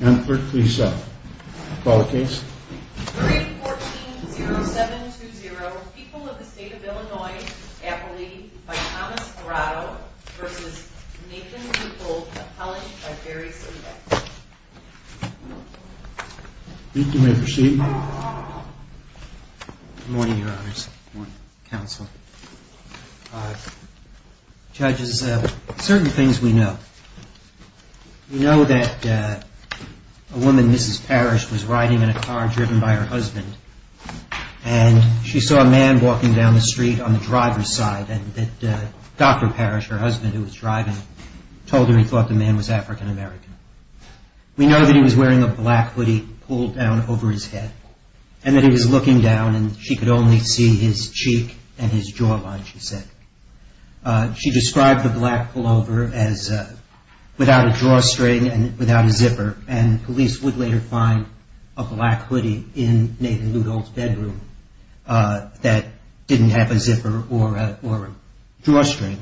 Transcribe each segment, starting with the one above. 314-0720 People of the State of Illinois, Appalachia, by Thomas Morato v. Nathan Leuthold, Appalachia, by Barry Smedek You may proceed Good morning, Your Honors. Good morning, Counsel. Judges, certain things we know. We know that a woman, Mrs. Parrish, was riding in a car driven by her husband, and she saw a man walking down the street on the driver's side, and that Dr. Parrish, her husband, who was driving, told her he thought the man was African American. We know that he was wearing a black hoodie pulled down over his head, and that he was looking down, and she could only see his cheek and his jawline, she said. She described the black pullover as without a drawstring and without a zipper, and police would later find a black hoodie in Nathan Leuthold's bedroom that didn't have a zipper or a drawstring.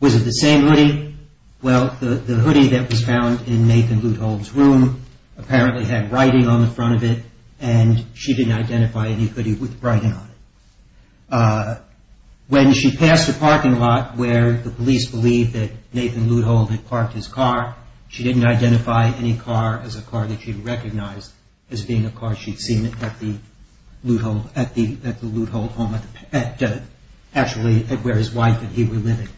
Was it the same hoodie? Well, the hoodie that was found in Nathan Leuthold's room apparently had writing on the front of it, and she didn't identify any hoodie with writing on it. When she passed a parking lot where the police believed that Nathan Leuthold had parked his car, she didn't identify any car as a car that she recognized as being a car she'd seen at the Leuthold home, actually where his wife and he were living.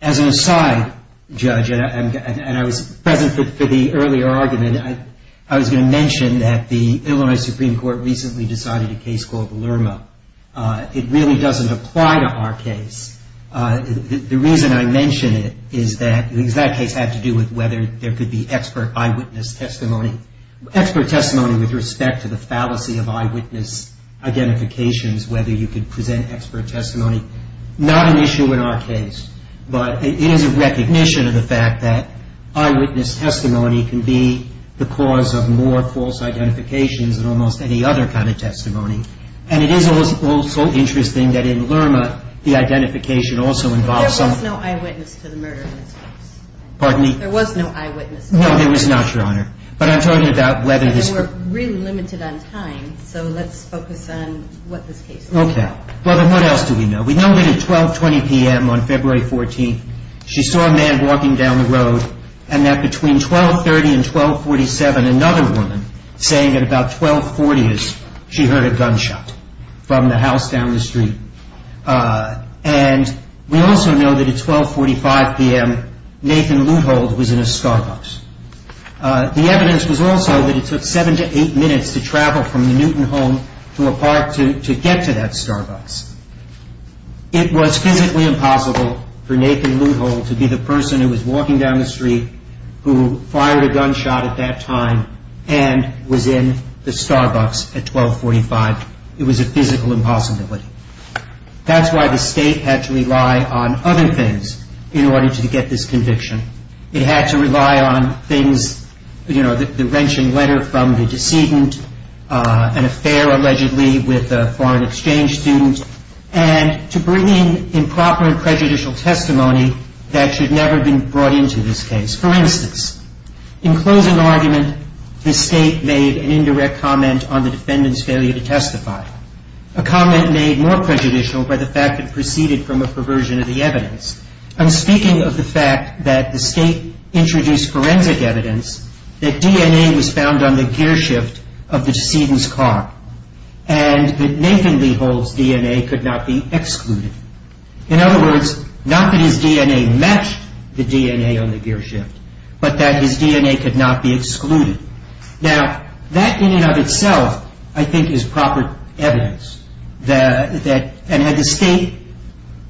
As an aside, Judge, and I was present for the earlier argument, I was going to mention that the Illinois Supreme Court recently decided a case called Lerma. It really doesn't apply to our case. The reason I mention it is that that case had to do with whether there could be expert eyewitness testimony, expert testimony with respect to the fallacy of eyewitness identifications, whether you could present expert testimony. Not an issue in our case, but it is a recognition of the fact that eyewitness testimony can be the cause of more false identifications than almost any other kind of testimony, and it is also interesting that in Lerma the identification also involves some... There was no eyewitness to the murder in this case. Pardon me? There was no eyewitness. No, there was not, Your Honor. But I'm talking about whether this... We're really limited on time, so let's focus on what this case is. Okay. Well, then what else do we know? We know that at 12.20 p.m. on February 14th she saw a man walking down the road and that between 12.30 and 12.47 another woman saying at about 12.40 she heard a gunshot from the house down the street. And we also know that at 12.45 p.m. Nathan Leuthold was in a Starbucks. The evidence was also that it took seven to eight minutes to travel from the Newton home to a park to get to that Starbucks. It was physically impossible for Nathan Leuthold to be the person who was walking down the street who fired a gunshot at that time and was in the Starbucks at 12.45. It was a physical impossibility. That's why the State had to rely on other things in order to get this conviction. It had to rely on things, you know, the wrenching letter from the decedent, an affair allegedly with a foreign exchange student, and to bring in improper and prejudicial testimony that should never have been brought into this case. For instance, in closing argument the State made an indirect comment on the defendant's failure to testify, a comment made more prejudicial by the fact it proceeded from a perversion of the evidence. And speaking of the fact that the State introduced forensic evidence, that DNA was found on the gearshift of the decedent's car, and that Nathan Leuthold's DNA could not be excluded. In other words, not that his DNA matched the DNA on the gearshift, but that his DNA could not be excluded. Now, that in and of itself, I think, is proper evidence. And had the State,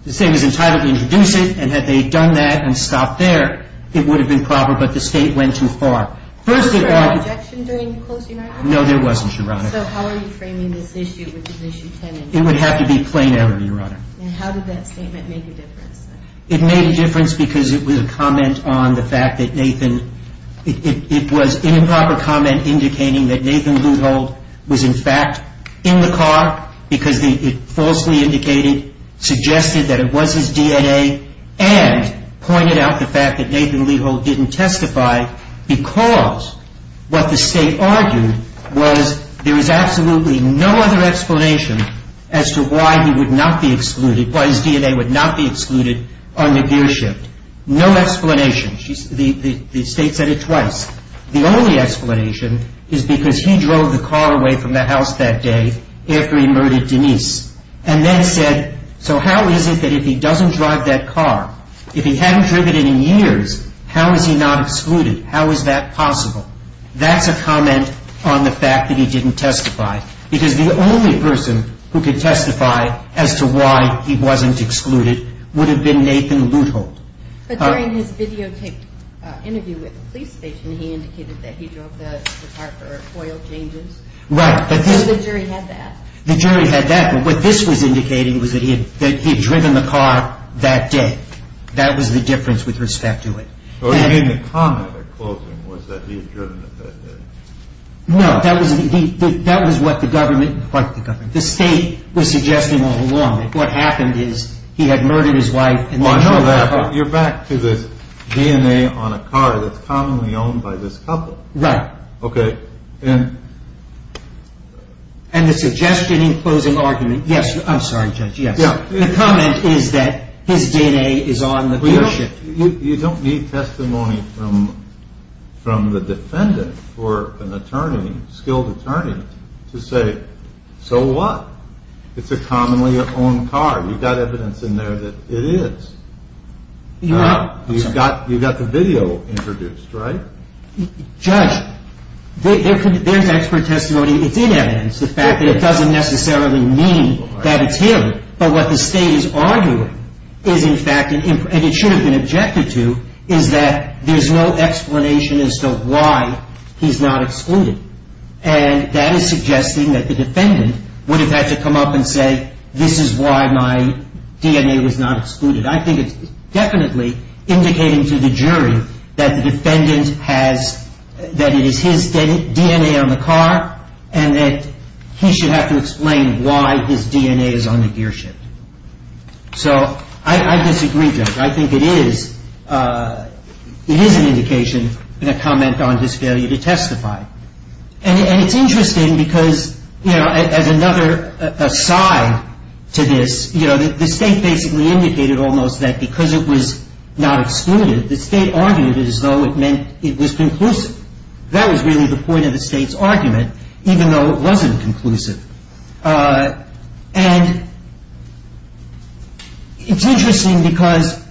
the State was entitled to introduce it, and had they done that and stopped there, it would have been proper, but the State went too far. Was there an objection during closing argument? No, there wasn't, Your Honor. So how are you framing this issue, which is Issue 10? It would have to be plain error, Your Honor. And how did that statement make a difference? It made a difference because it was a comment on the fact that Nathan, it was an improper comment indicating that Nathan Leuthold was, in fact, in the car, because it falsely indicated, suggested that it was his DNA, and pointed out the fact that Nathan Leuthold didn't testify because what the State argued was there is absolutely no other explanation as to why he would not be excluded, why his DNA would not be excluded on the gearshift. No explanation. The State said it twice. The only explanation is because he drove the car away from the house that day after he murdered Denise, and then said, so how is it that if he doesn't drive that car, if he hadn't driven it in years, how is he not excluded? How is that possible? That's a comment on the fact that he didn't testify, because the only person who could testify as to why he wasn't excluded would have been Nathan Leuthold. But during his videotaped interview with the police station, he indicated that he drove the car for oil changes. Right. So the jury had that. The jury had that, but what this was indicating was that he had driven the car that day. That was the difference with respect to it. So you mean the comment at closing was that he had driven it that day? No, that was what the government, the State was suggesting all along, that what happened is he had murdered his wife and then drove the car. You're back to this DNA on a car that's commonly owned by this couple. Right. Okay. And the suggestion in closing argument, yes, I'm sorry, Judge, yes. The comment is that his DNA is on the car shift. You don't need testimony from the defendant or an attorney, skilled attorney, to say, so what? It's a commonly owned car. You've got evidence in there that it is. You've got the video introduced, right? Judge, there's expert testimony. It's in evidence, the fact that it doesn't necessarily mean that it's him. But what the State is arguing is, in fact, and it should have been objected to, is that there's no explanation as to why he's not excluded. And that is suggesting that the defendant would have had to come up and say, this is why my DNA was not excluded. I think it's definitely indicating to the jury that the defendant has, that it is his DNA on the car, and that he should have to explain why his DNA is on the gear shift. So I disagree, Judge. I think it is, it is an indication and a comment on his failure to testify. And it's interesting because, you know, as another aside to this, you know, the State basically indicated almost that because it was not excluded, the State argued as though it meant it was conclusive. That was really the point of the State's argument, even though it wasn't conclusive. And it's interesting because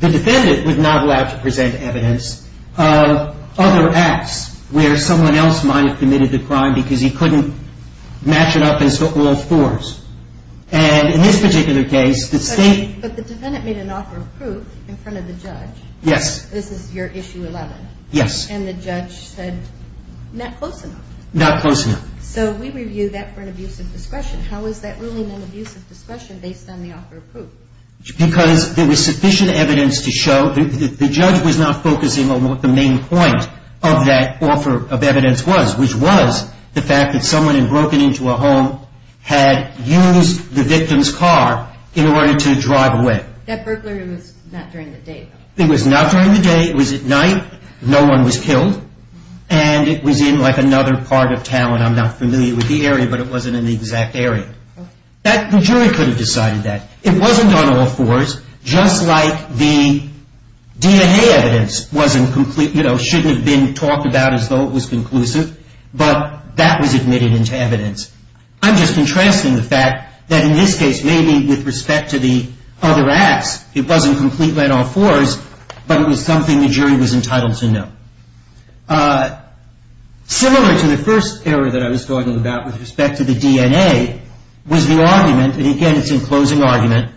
the defendant was not allowed to present evidence of other acts where someone else might have committed the crime because he couldn't match it up in so-called fours. And in this particular case, the State... But the defendant made an offer of proof in front of the judge. Yes. This is your Issue 11. Yes. And the judge said, not close enough. Not close enough. So we review that for an abuse of discretion. How is that really an abuse of discretion based on the offer of proof? Because there was sufficient evidence to show... The judge was not focusing on what the main point of that offer of evidence was, which was the fact that someone had broken into a home, had used the victim's car in order to drive away. That burglary was not during the day, though. It was not during the day. It was at night. No one was killed. And it was in, like, another part of town. I'm not familiar with the area, but it wasn't in the exact area. The jury could have decided that. It wasn't on all fours, just like the D&A evidence wasn't complete, you know, shouldn't have been talked about as though it was conclusive, but that was admitted into evidence. I'm just contrasting the fact that in this case, maybe with respect to the other acts, it wasn't completely on all fours, but it was something the jury was entitled to know. Similar to the first area that I was talking about with respect to the D&A, was the argument, and again it's in closing argument,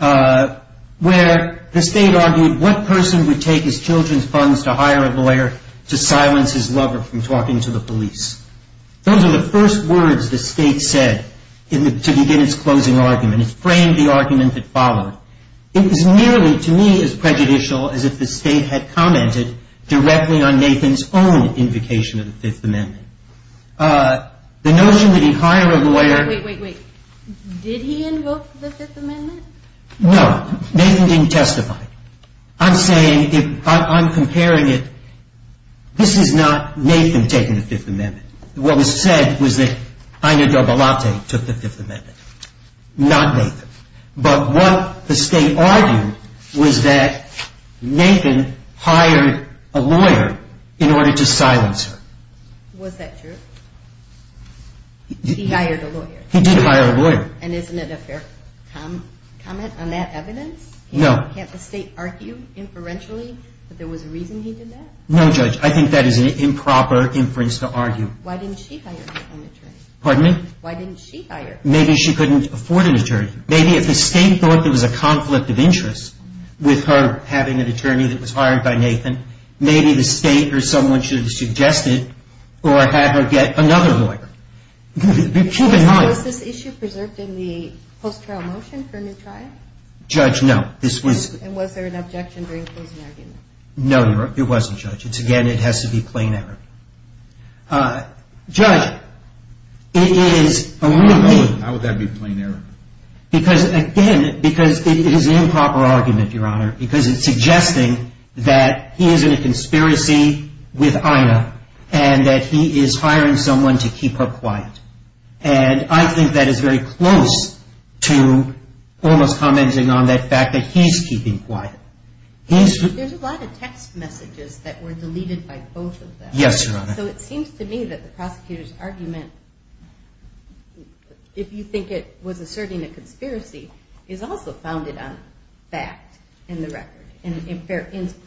where the state argued what person would take his children's funds to hire a lawyer to silence his lover from talking to the police. Those are the first words the state said to begin its closing argument. It framed the argument that followed. It was nearly to me as prejudicial as if the state had commented directly on Nathan's own invocation of the Fifth Amendment. The notion that he hire a lawyer- Wait, wait, wait. Did he invoke the Fifth Amendment? No. Nathan didn't testify. I'm saying, if I'm comparing it, this is not Nathan taking the Fifth Amendment. What was said was that Ina Dobalate took the Fifth Amendment, not Nathan. But what the state argued was that Nathan hired a lawyer in order to silence her. Was that true? He hired a lawyer. He did hire a lawyer. And isn't it a fair comment on that evidence? No. Can't the state argue inferentially that there was a reason he did that? No, Judge. I think that is an improper inference to argue. Why didn't she hire her own attorney? Pardon me? Why didn't she hire? Maybe she couldn't afford an attorney. Maybe if the state thought there was a conflict of interest with her having an attorney that was hired by Nathan, maybe the state or someone should have suggested or had her get another lawyer. Was this issue preserved in the post-trial motion for a new trial? Judge, no. And was there an objection during the closing argument? No, there wasn't, Judge. Again, it has to be plain error. Judge, it is a real thing. How would that be plain error? Because, again, because it is an improper argument, Your Honor, because it's suggesting that he is in a conspiracy with Ina and that he is hiring someone to keep her quiet. And I think that is very close to almost commenting on that fact that he's keeping quiet. There's a lot of text messages that were deleted by both of them. Yes, Your Honor. So it seems to me that the prosecutor's argument, if you think it was asserting a conspiracy, is also founded on fact in the record and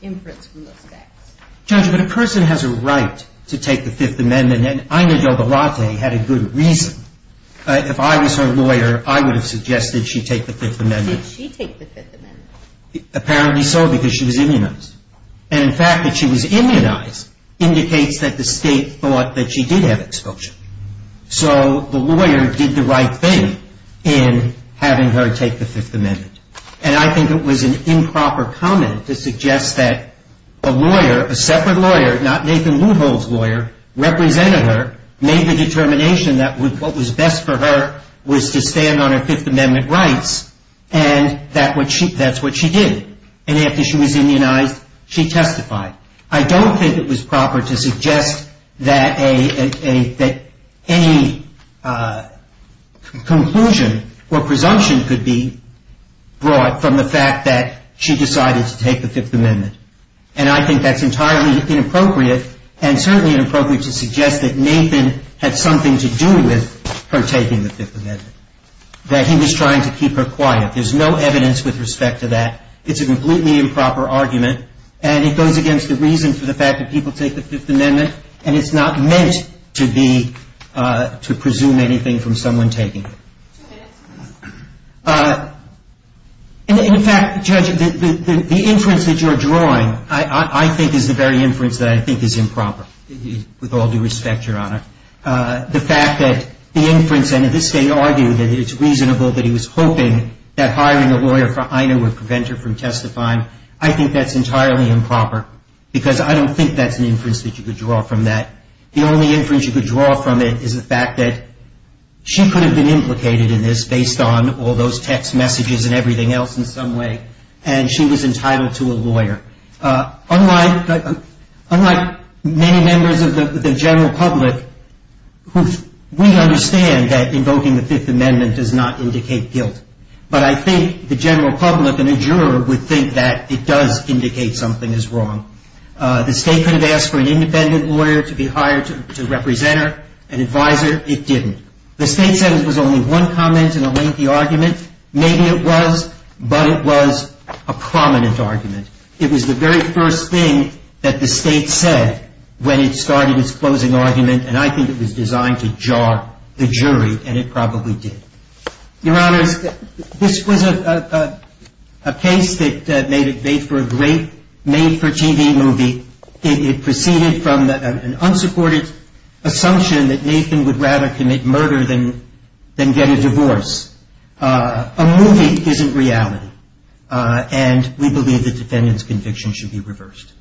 inference from those facts. Judge, but a person has a right to take the Fifth Amendment, and Ina Dobolate had a good reason. If I was her lawyer, I would have suggested she take the Fifth Amendment. Did she take the Fifth Amendment? Apparently so, because she was immunized. And the fact that she was immunized indicates that the state thought that she did have exposure. So the lawyer did the right thing in having her take the Fifth Amendment. And I think it was an improper comment to suggest that a lawyer, a separate lawyer, not Nathan Leuvel's lawyer, represented her, made the determination that what was best for her was to stand on her Fifth Amendment rights, and that's what she did. And after she was immunized, she testified. I don't think it was proper to suggest that any conclusion or presumption could be brought from the fact that she decided to take the Fifth Amendment. And I think that's entirely inappropriate, and certainly inappropriate to suggest that Nathan had something to do with her taking the Fifth Amendment, that he was trying to keep her quiet. There's no evidence with respect to that. It's a completely improper argument. And it goes against the reason for the fact that people take the Fifth Amendment, and it's not meant to be, to presume anything from someone taking it. In fact, Judge, the inference that you're drawing, I think, is the very inference that I think is improper, with all due respect, Your Honor. The fact that the inference, and at this stage argue that it's reasonable that he was hoping that hiring a lawyer for INA would prevent her from testifying, I think that's entirely improper, because I don't think that's an inference that you could draw from that. The only inference you could draw from it is the fact that she could have been implicated in this based on all those text messages and everything else in some way, and she was entitled to a lawyer. Unlike many members of the general public, we understand that invoking the Fifth Amendment does not indicate guilt. But I think the general public and a juror would think that it does indicate something is wrong. The State could have asked for an independent lawyer to be hired to represent her, an advisor. It didn't. The State said it was only one comment in a lengthy argument. Maybe it was, but it was a prominent argument. It was the very first thing that the State said when it started its closing argument, and I think it was designed to jar the jury, and it probably did. Your Honors, this was a case that made for a great made-for-TV movie. It proceeded from an unsupported assumption that Nathan would rather commit murder than get a divorce. A movie isn't reality, and we believe the defendant's conviction should be reversed.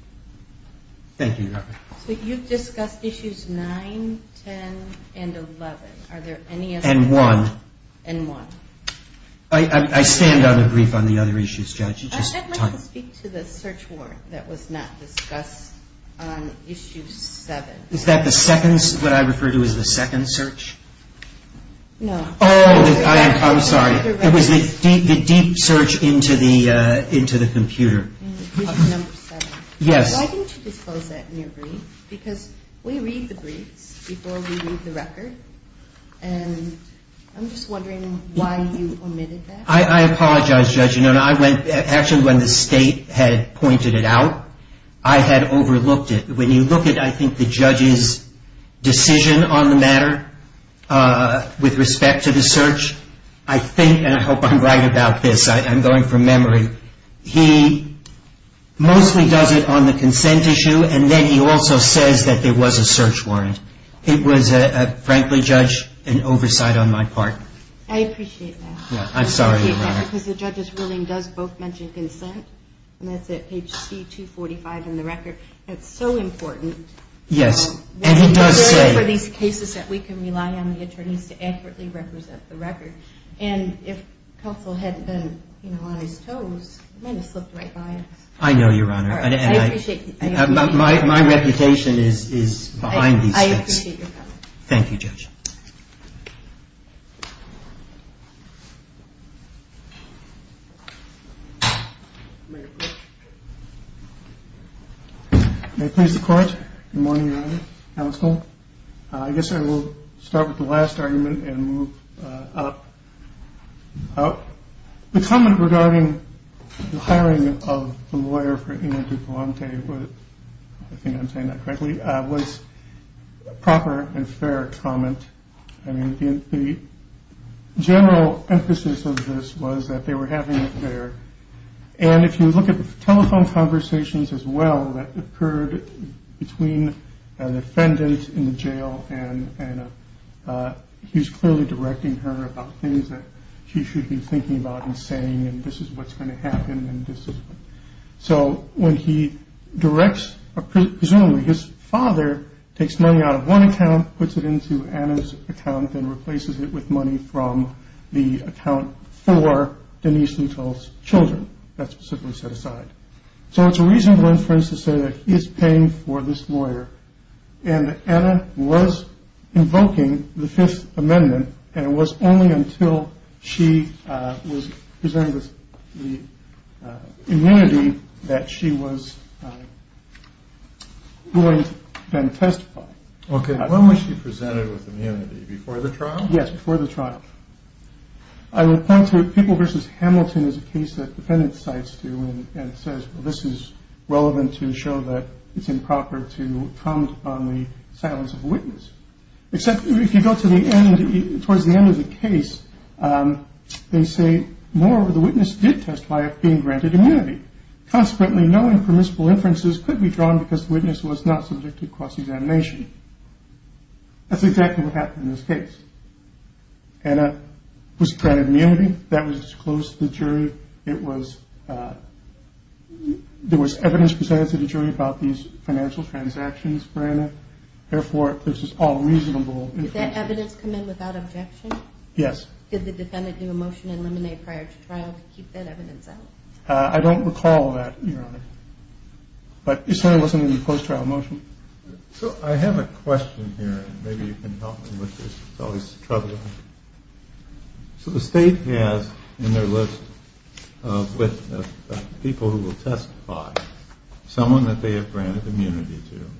Thank you, Your Honor. So you've discussed Issues 9, 10, and 11. Are there any other? And 1. And 1. I stand on a brief on the other issues, Judge. I'd like to speak to the search warrant that was not discussed on Issue 7. Is that the second, what I refer to as the second search? No. Oh, I'm sorry. It was the deep search into the computer. Issue 7. Yes. Why didn't you disclose that in your brief? Because we read the briefs before we read the record, and I'm just wondering why you omitted that. I apologize, Judge. Actually, when the State had pointed it out, I had overlooked it. When you look at, I think, the judge's decision on the matter with respect to the search, I think, and I hope I'm right about this, I'm going from memory, he mostly does it on the consent issue, and then he also says that there was a search warrant. It was, frankly, Judge, an oversight on my part. I appreciate that. I'm sorry, Your Honor. I appreciate that because the judge's ruling does both mention consent, and that's at page C245 in the record. It's so important. Yes, and he does say- It's important for these cases that we can rely on the attorneys to accurately represent the record, and if counsel hadn't been on his toes, he might have slipped right by us. I know, Your Honor. I appreciate that. My reputation is behind these things. I appreciate your comment. Thank you, Judge. May it please the Court. Good morning, Your Honor. Counsel. I guess I will start with the last argument and move up. The comment regarding the hiring of the lawyer for Ina DuPonte was, I think I'm saying that correctly, was a proper and fair comment. I mean, the general emphasis of this was that they were having an affair, and if you look at the telephone conversations as well that occurred between an offendant in the jail and he's clearly directing her about things that she should be thinking about and saying, and this is what's going to happen. So when he directs, presumably his father takes money out of one account, puts it into Anna's account and replaces it with money from the account for Denise Lutel's children. That's simply set aside. So it's a reasonable inference to say that he is paying for this lawyer, and Anna was invoking the Fifth Amendment, and it was only until she was presented with the immunity that she was going to then testify. Okay. When was she presented with immunity? Before the trial? Yes, before the trial. I would point to People v. Hamilton as a case that the defendant cites to and says, well, this is relevant to show that it's improper to comment on the silence of a witness. Except if you go to the end, towards the end of the case, they say, moreover, the witness did testify of being granted immunity. Consequently, no impermissible inferences could be drawn because the witness was not subject to cross-examination. That's exactly what happened in this case. Anna was granted immunity. That was disclosed to the jury. There was evidence presented to the jury about these financial transactions for Anna. Therefore, this is all reasonable. Did that evidence come in without objection? Yes. Did the defendant do a motion in limine prior to trial to keep that evidence out? I don't recall that, Your Honor. But it certainly wasn't in the post-trial motion. So I have a question here, and maybe you can help me with this. It's always troubling. So the state has in their list of people who will testify someone that they have granted immunity to,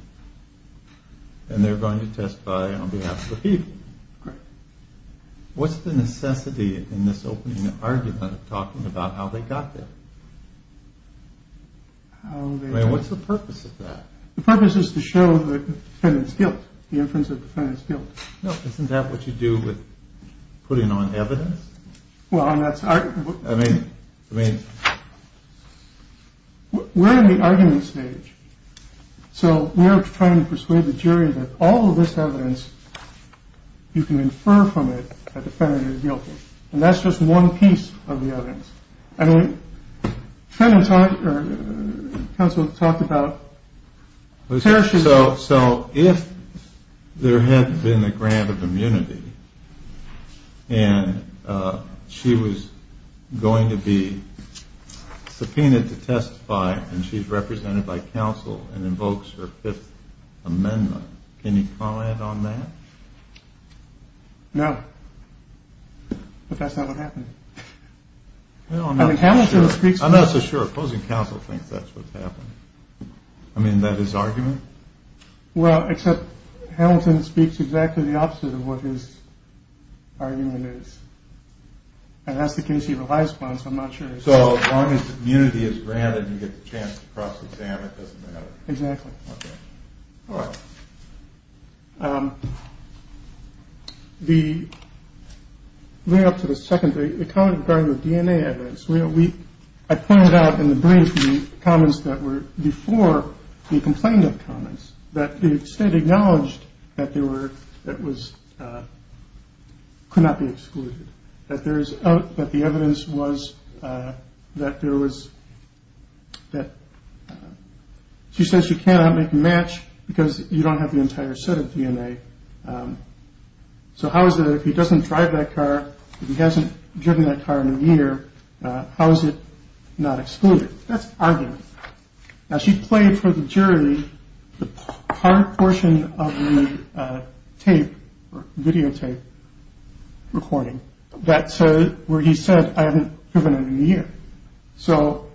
and they're going to testify on behalf of the people. Correct. What's the necessity in this opening argument of talking about how they got there? I mean, what's the purpose of that? The purpose is to show the defendant's guilt, the inference of the defendant's guilt. No, isn't that what you do with putting on evidence? Well, I mean, we're in the argument stage. So we're trying to persuade the jury that all of this evidence, you can infer from it that the defendant is guilty. And that's just one piece of the evidence. I mean, the counsel talked about tertiary. So if there had been a grant of immunity, and she was going to be subpoenaed to testify, and she's represented by counsel and invokes her Fifth Amendment, can you comment on that? No. But that's not what happened. I'm not so sure. Opposing counsel thinks that's what happened. I mean, that is argument. Well, except Hamilton speaks exactly the opposite of what his argument is. And that's the case. He relies upon so much. So as long as immunity is granted, you get a chance to cross the exam. It doesn't matter. Exactly. All right. The. Moving up to the second, the comment regarding the DNA evidence. I pointed out in the brief the comments that were before the complaint of comments, that the state acknowledged that there were, that was, could not be excluded, that there is, that the evidence was, that there was, that she says you cannot make a match because you don't have the entire set of DNA. So how is it if he doesn't drive that car? He hasn't driven that car in a year. How is it not excluded? That's argument. Now, she played for the jury the hard portion of the tape videotape recording. That's where he said, I haven't given it a year. So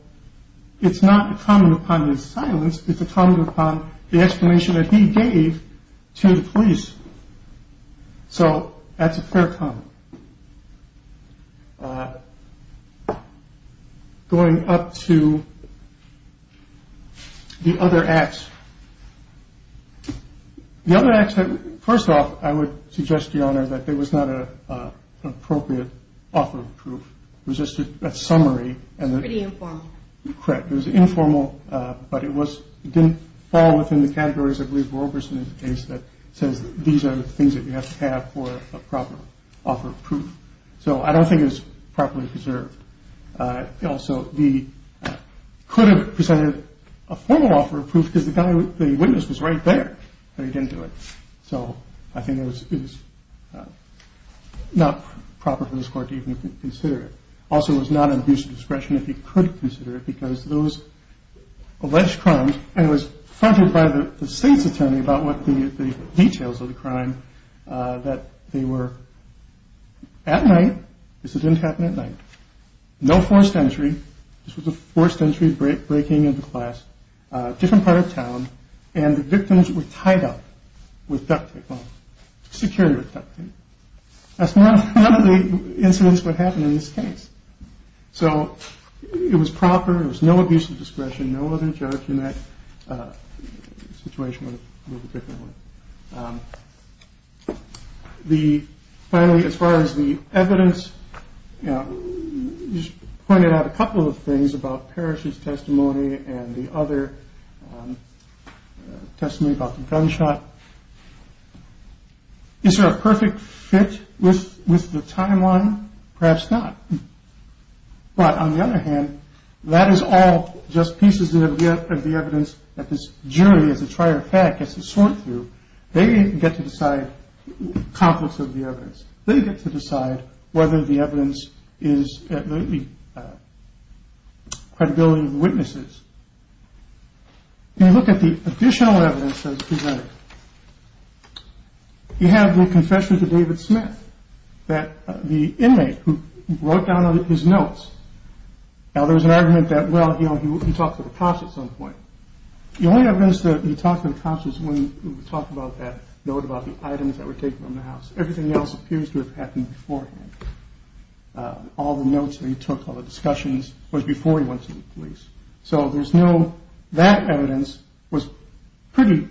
it's not a comment upon his silence. It's a comment upon the explanation that he gave to the police. So that's a fair comment. Going up to the other acts. The other accident. First off, I would suggest the honor that there was not a appropriate offer of proof. It was just a summary. Correct. It was informal. But it was didn't fall within the categories. I believe Roberson is that says these are the things that you have to have for a proper offer of proof. So I don't think it's properly preserved. Also, the could have presented a formal offer of proof because the guy with the witness was right there. But he didn't do it. So I think it was not proper for this court to even consider it. Also, it's not an abuse of discretion. If you could consider it because those alleged crimes. And it was funded by the state's attorney about what the details of the crime that they were at night. This didn't happen at night. No forced entry. This was a forced entry break, breaking into class, different part of town. And the victims were tied up with duct tape security. That's one of the incidents what happened in this case. So it was proper. It was no abuse of discretion. No other judge in that situation. The finally, as far as the evidence pointed out a couple of things about Parish's testimony and the other testimony about the gunshot. Is there a perfect fit with the timeline? Perhaps not. But on the other hand, that is all just pieces of the evidence that this jury, as a trier of fact, gets to sort through. They get to decide conflicts of the evidence. They get to decide whether the evidence is at the credibility of the witnesses. When you look at the additional evidence that was presented, you have the confession to David Smith. That the inmate who wrote down his notes. Now there was an argument that, well, he talked to the cops at some point. The only evidence that he talked to the cops was when he talked about that note about the items that were taken from the house. Everything else appears to have happened beforehand. All the notes that he took, all the discussions was before he went to the police. So there's no that evidence was pretty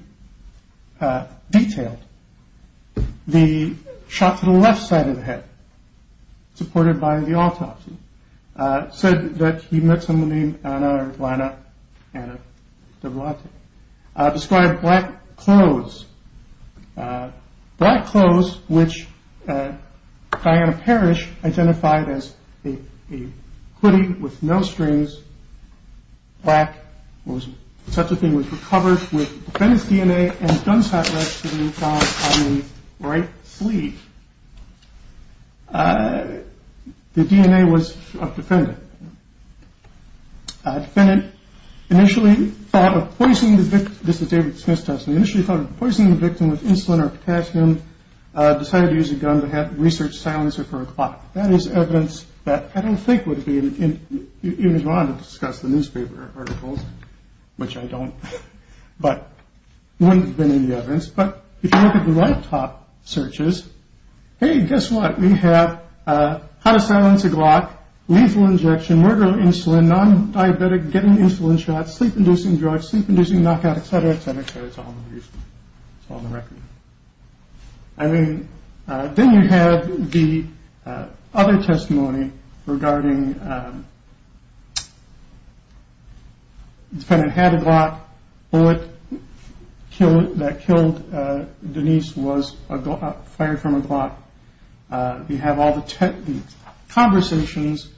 detailed. The shot to the left side of the head. Supported by the autopsy said that he met somebody on our lineup. Describe black clothes, black clothes, which Diana Parrish identified as a hoodie with no strings. Black was such a thing was recovered with his DNA. Don't stop. Right. Please. The DNA was defended. I've been initially poisoned. This is David Smith. Initially poisoned the victim with insulin or potassium. Decided to use a gun to have research silencer for a clock. That is evidence that I don't think would be in Iran to discuss the newspaper articles, which I don't. But when it's been in the ovens. But if you look at the right top searches. Hey, guess what? We have how to silence a glock. Lethal injection, murder, insulin, non-diabetic getting insulin shots, sleep inducing drugs, sleep inducing knockout, et cetera, et cetera. It's on the record. I mean, then you have the other testimony regarding. It's kind of had a lot. Well, it killed that killed. Denise was fired from a block. You have all the conversations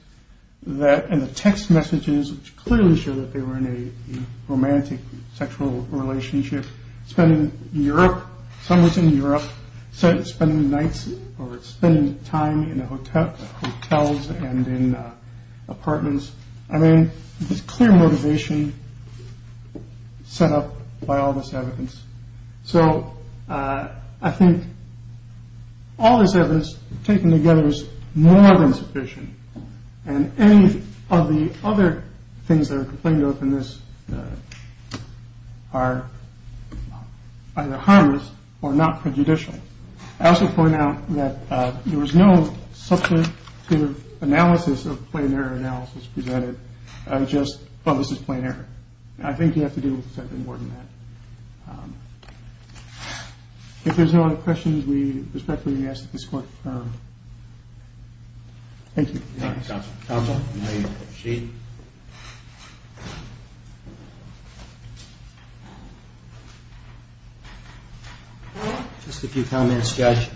that in the text messages clearly show that they were in a romantic sexual relationship. Spending Europe, some was in Europe. So it's been nights or spending time in hotels and in apartments. I mean, it's clear motivation set up by all this evidence. So I think all this evidence taken together is more than sufficient. And any of the other things that are complained of in this are either harmless or not prejudicial. I also point out that there was no substantive analysis of planar analysis presented. I just thought this is planar. I think you have to do something more than that. If there's no other questions, we respectfully ask that this court. Thank you. Thank you. Just a few comments, Judge.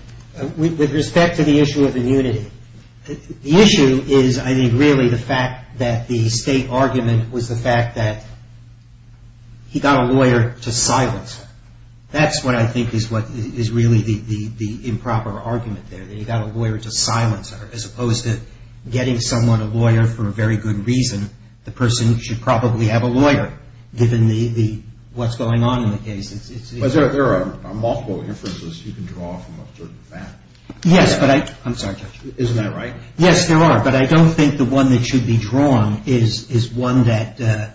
With respect to the issue of immunity, the issue is, I think, really the fact that the state argument was the fact that he got a lawyer to silence her. That's what I think is really the improper argument there, that he got a lawyer to silence her, as opposed to getting someone a lawyer for a very good reason. The person should probably have a lawyer, given what's going on in the case. But there are multiple inferences you can draw from a certain fact. Yes, but I'm sorry, Judge. Isn't that right? Yes, there are. But I don't think the one that should be drawn is one that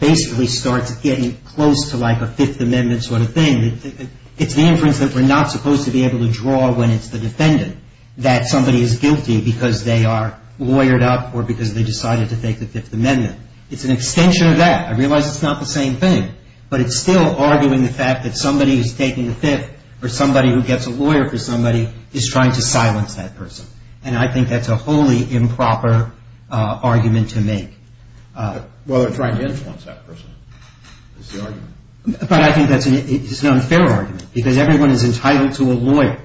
basically starts getting close to like a Fifth Amendment sort of thing. It's the inference that we're not supposed to be able to draw when it's the defendant, that somebody is guilty because they are lawyered up or because they decided to take the Fifth Amendment. It's an extension of that. I realize it's not the same thing, but it's still arguing the fact that somebody who's taking the Fifth or somebody who gets a lawyer for somebody is trying to silence that person. And I think that's a wholly improper argument to make. Well, they're trying to influence that person is the argument. But I think that's an unfair argument because everyone is entitled to a lawyer.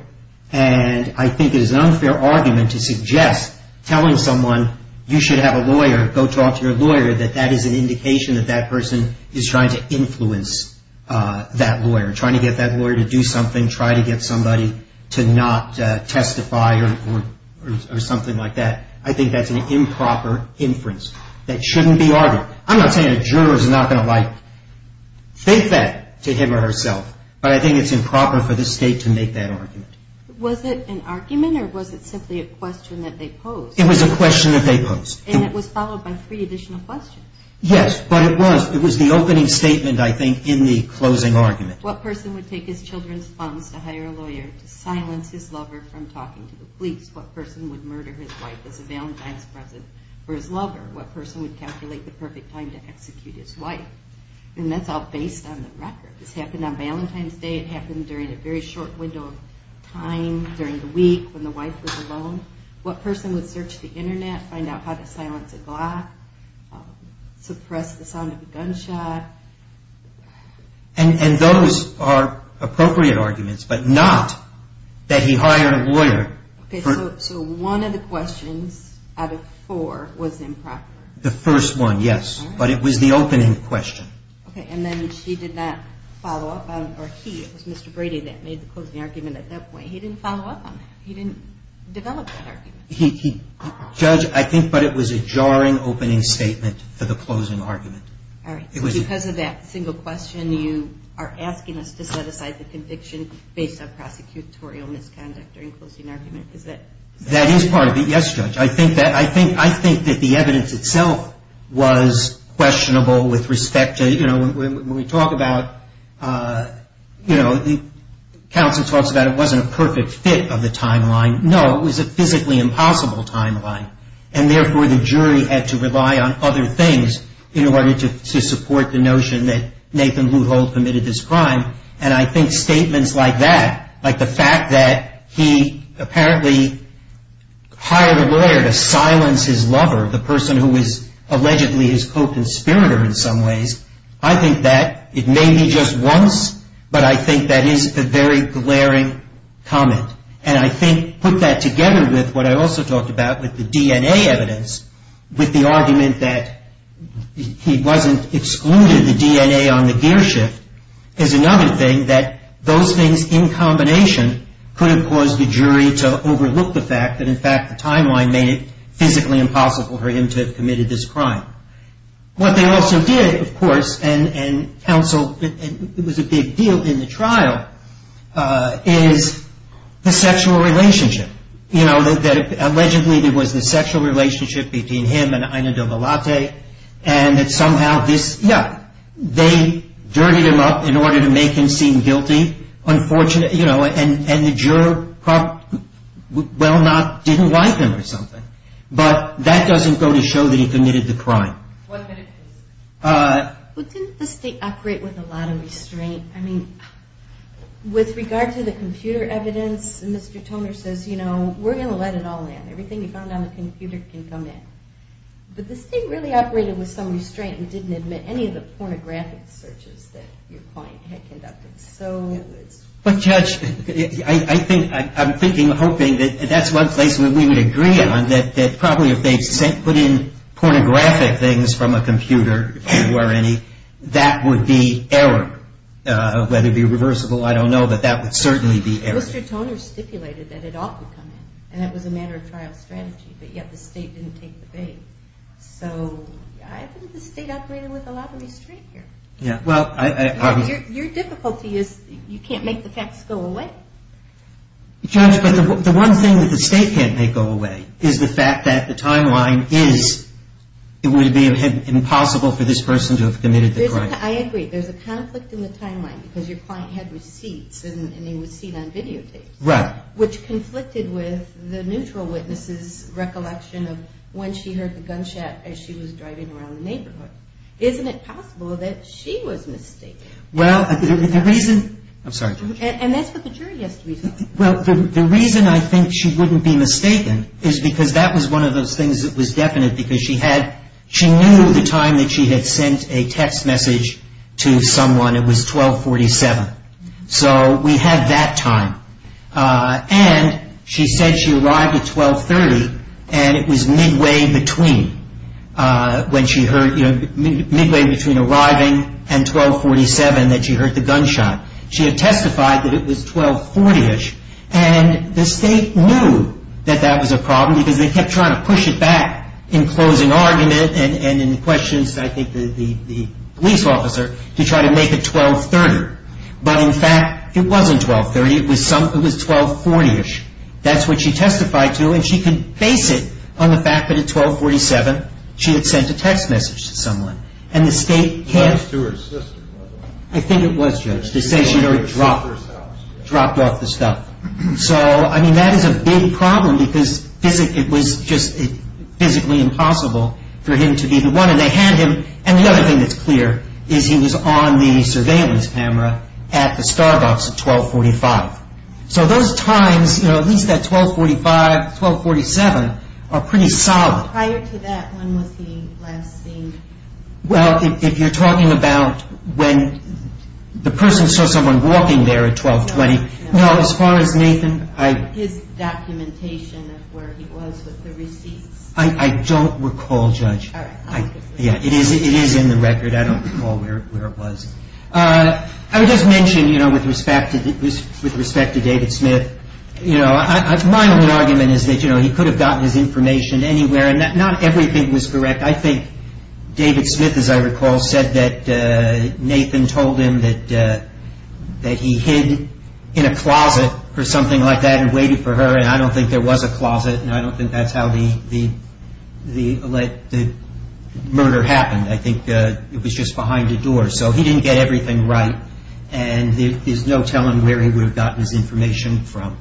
And I think it is an unfair argument to suggest telling someone you should have a lawyer, go talk to your lawyer, that that is an indication that that person is trying to influence that lawyer, trying to get that lawyer to do something, trying to get somebody to not testify or something like that. I think that's an improper inference that shouldn't be argued. I'm not saying a juror is not going to like think that to him or herself, but I think it's improper for the State to make that argument. Was it an argument or was it simply a question that they posed? It was a question that they posed. And it was followed by three additional questions. Yes, but it was. It was the opening statement, I think, in the closing argument. What person would take his children's phones to hire a lawyer to silence his lover from talking to the police? What person would murder his wife as a Valentine's present for his lover? What person would calculate the perfect time to execute his wife? And that's all based on the record. This happened on Valentine's Day. It happened during a very short window of time during the week when the wife was alone. What person would search the Internet, find out how to silence a Glock, suppress the sound of a gunshot? And those are appropriate arguments, but not that he hired a lawyer. Okay, so one of the questions out of four was improper. The first one, yes, but it was the opening question. Okay, and then she did not follow up on, or he, it was Mr. Brady that made the closing argument at that point. He didn't follow up on that. He didn't develop that argument. He judged, I think, but it was a jarring opening statement for the closing argument. All right. Because of that single question, you are asking us to set aside the conviction based on prosecutorial misconduct during closing argument. Is that? That is part of it, yes, Judge. I think that the evidence itself was questionable with respect to, you know, when we talk about, you know, the counsel talks about it wasn't a perfect fit of the timeline. No, it was a physically impossible timeline, and therefore the jury had to rely on other things in order to support the notion that Nathan Luthold committed this crime. And I think statements like that, like the fact that he apparently hired a lawyer to silence his lover, the person who was allegedly his co-conspirator in some ways, I think that it may be just once, but I think that is a very glaring comment. And I think put that together with what I also talked about with the DNA evidence, with the argument that he wasn't excluded, the DNA on the gear shift, is another thing that those things in combination could have caused the jury to overlook the fact that, in fact, the timeline made it physically impossible for him to have committed this crime. What they also did, of course, and counsel, it was a big deal in the trial, is the sexual relationship. You know, that allegedly there was this sexual relationship between him and Ina Dovalate, and that somehow this, yeah, they dirtied him up in order to make him seem guilty. Unfortunately, you know, and the juror probably, well not, didn't like him or something. But that doesn't go to show that he committed the crime. What did it do? Well, didn't the state operate with a lot of restraint? I mean, with regard to the computer evidence, Mr. Toner says, you know, we're going to let it all in. Everything you found on the computer can come in. But the state really operated with some restraint and didn't admit any of the pornographic searches that your client had conducted. But Judge, I think, I'm thinking, hoping that that's one place where we would agree on that probably if they put in pornographic things from a computer, if there were any, that would be error. Whether it would be reversible, I don't know, but that would certainly be error. Mr. Toner stipulated that it ought to come in, and it was a matter of trial strategy. But yet the state didn't take the bait. So I think the state operated with a lot of restraint here. Your difficulty is you can't make the facts go away. Judge, but the one thing that the state can't make go away is the fact that the timeline is, it would be impossible for this person to have committed the crime. I agree. There's a conflict in the timeline because your client had receipts, and they were seen on videotapes. Right. Which conflicted with the neutral witness's recollection of when she heard the gunshot as she was driving around the neighborhood. Isn't it possible that she was mistaken? Well, the reason, I'm sorry, Judge. And that's what the jury has to be saying. Well, the reason I think she wouldn't be mistaken is because that was one of those things that was definite because she knew the time that she had sent a text message to someone, it was 1247. So we had that time. And she said she arrived at 1230, and it was midway between when she heard, midway between arriving and 1247 that she heard the gunshot. She had testified that it was 1240-ish, and the state knew that that was a problem because they kept trying to push it back in closing argument and in questions, I think, to the police officer to try to make it 1230. But, in fact, it wasn't 1230. It was 1240-ish. That's what she testified to, and she could base it on the fact that at 1247 she had sent a text message to someone. And the state can't... I think it was, Judge. They say she dropped off the stuff. So, I mean, that is a big problem because it was just physically impossible for him to be the one. And the other thing that's clear is he was on the surveillance camera at the Starbucks at 1245. So those times, you know, at least at 1245, 1247, are pretty solid. Prior to that, when was he last seen? Well, if you're talking about when the person saw someone walking there at 1220, well, as far as Nathan, I... His documentation of where he was with the receipts. I don't recall, Judge. Yeah, it is in the record. I don't recall where it was. I would just mention, you know, with respect to David Smith, you know, my only argument is that, you know, he could have gotten his information anywhere, and not everything was correct. I think David Smith, as I recall, said that Nathan told him that he hid in a closet or something like that and waited for her, and I don't think there was a closet, and I don't think that's how the murder happened. I think it was just behind a door. So he didn't get everything right, and there's no telling where he would have gotten his information from.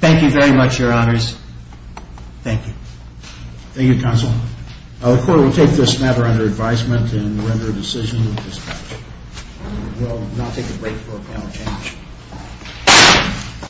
Thank you very much, Your Honors. Thank you. Thank you, Counsel. The Court will take this matter under advisement and render a decision with respect to it. We will now take a break for panel discussion.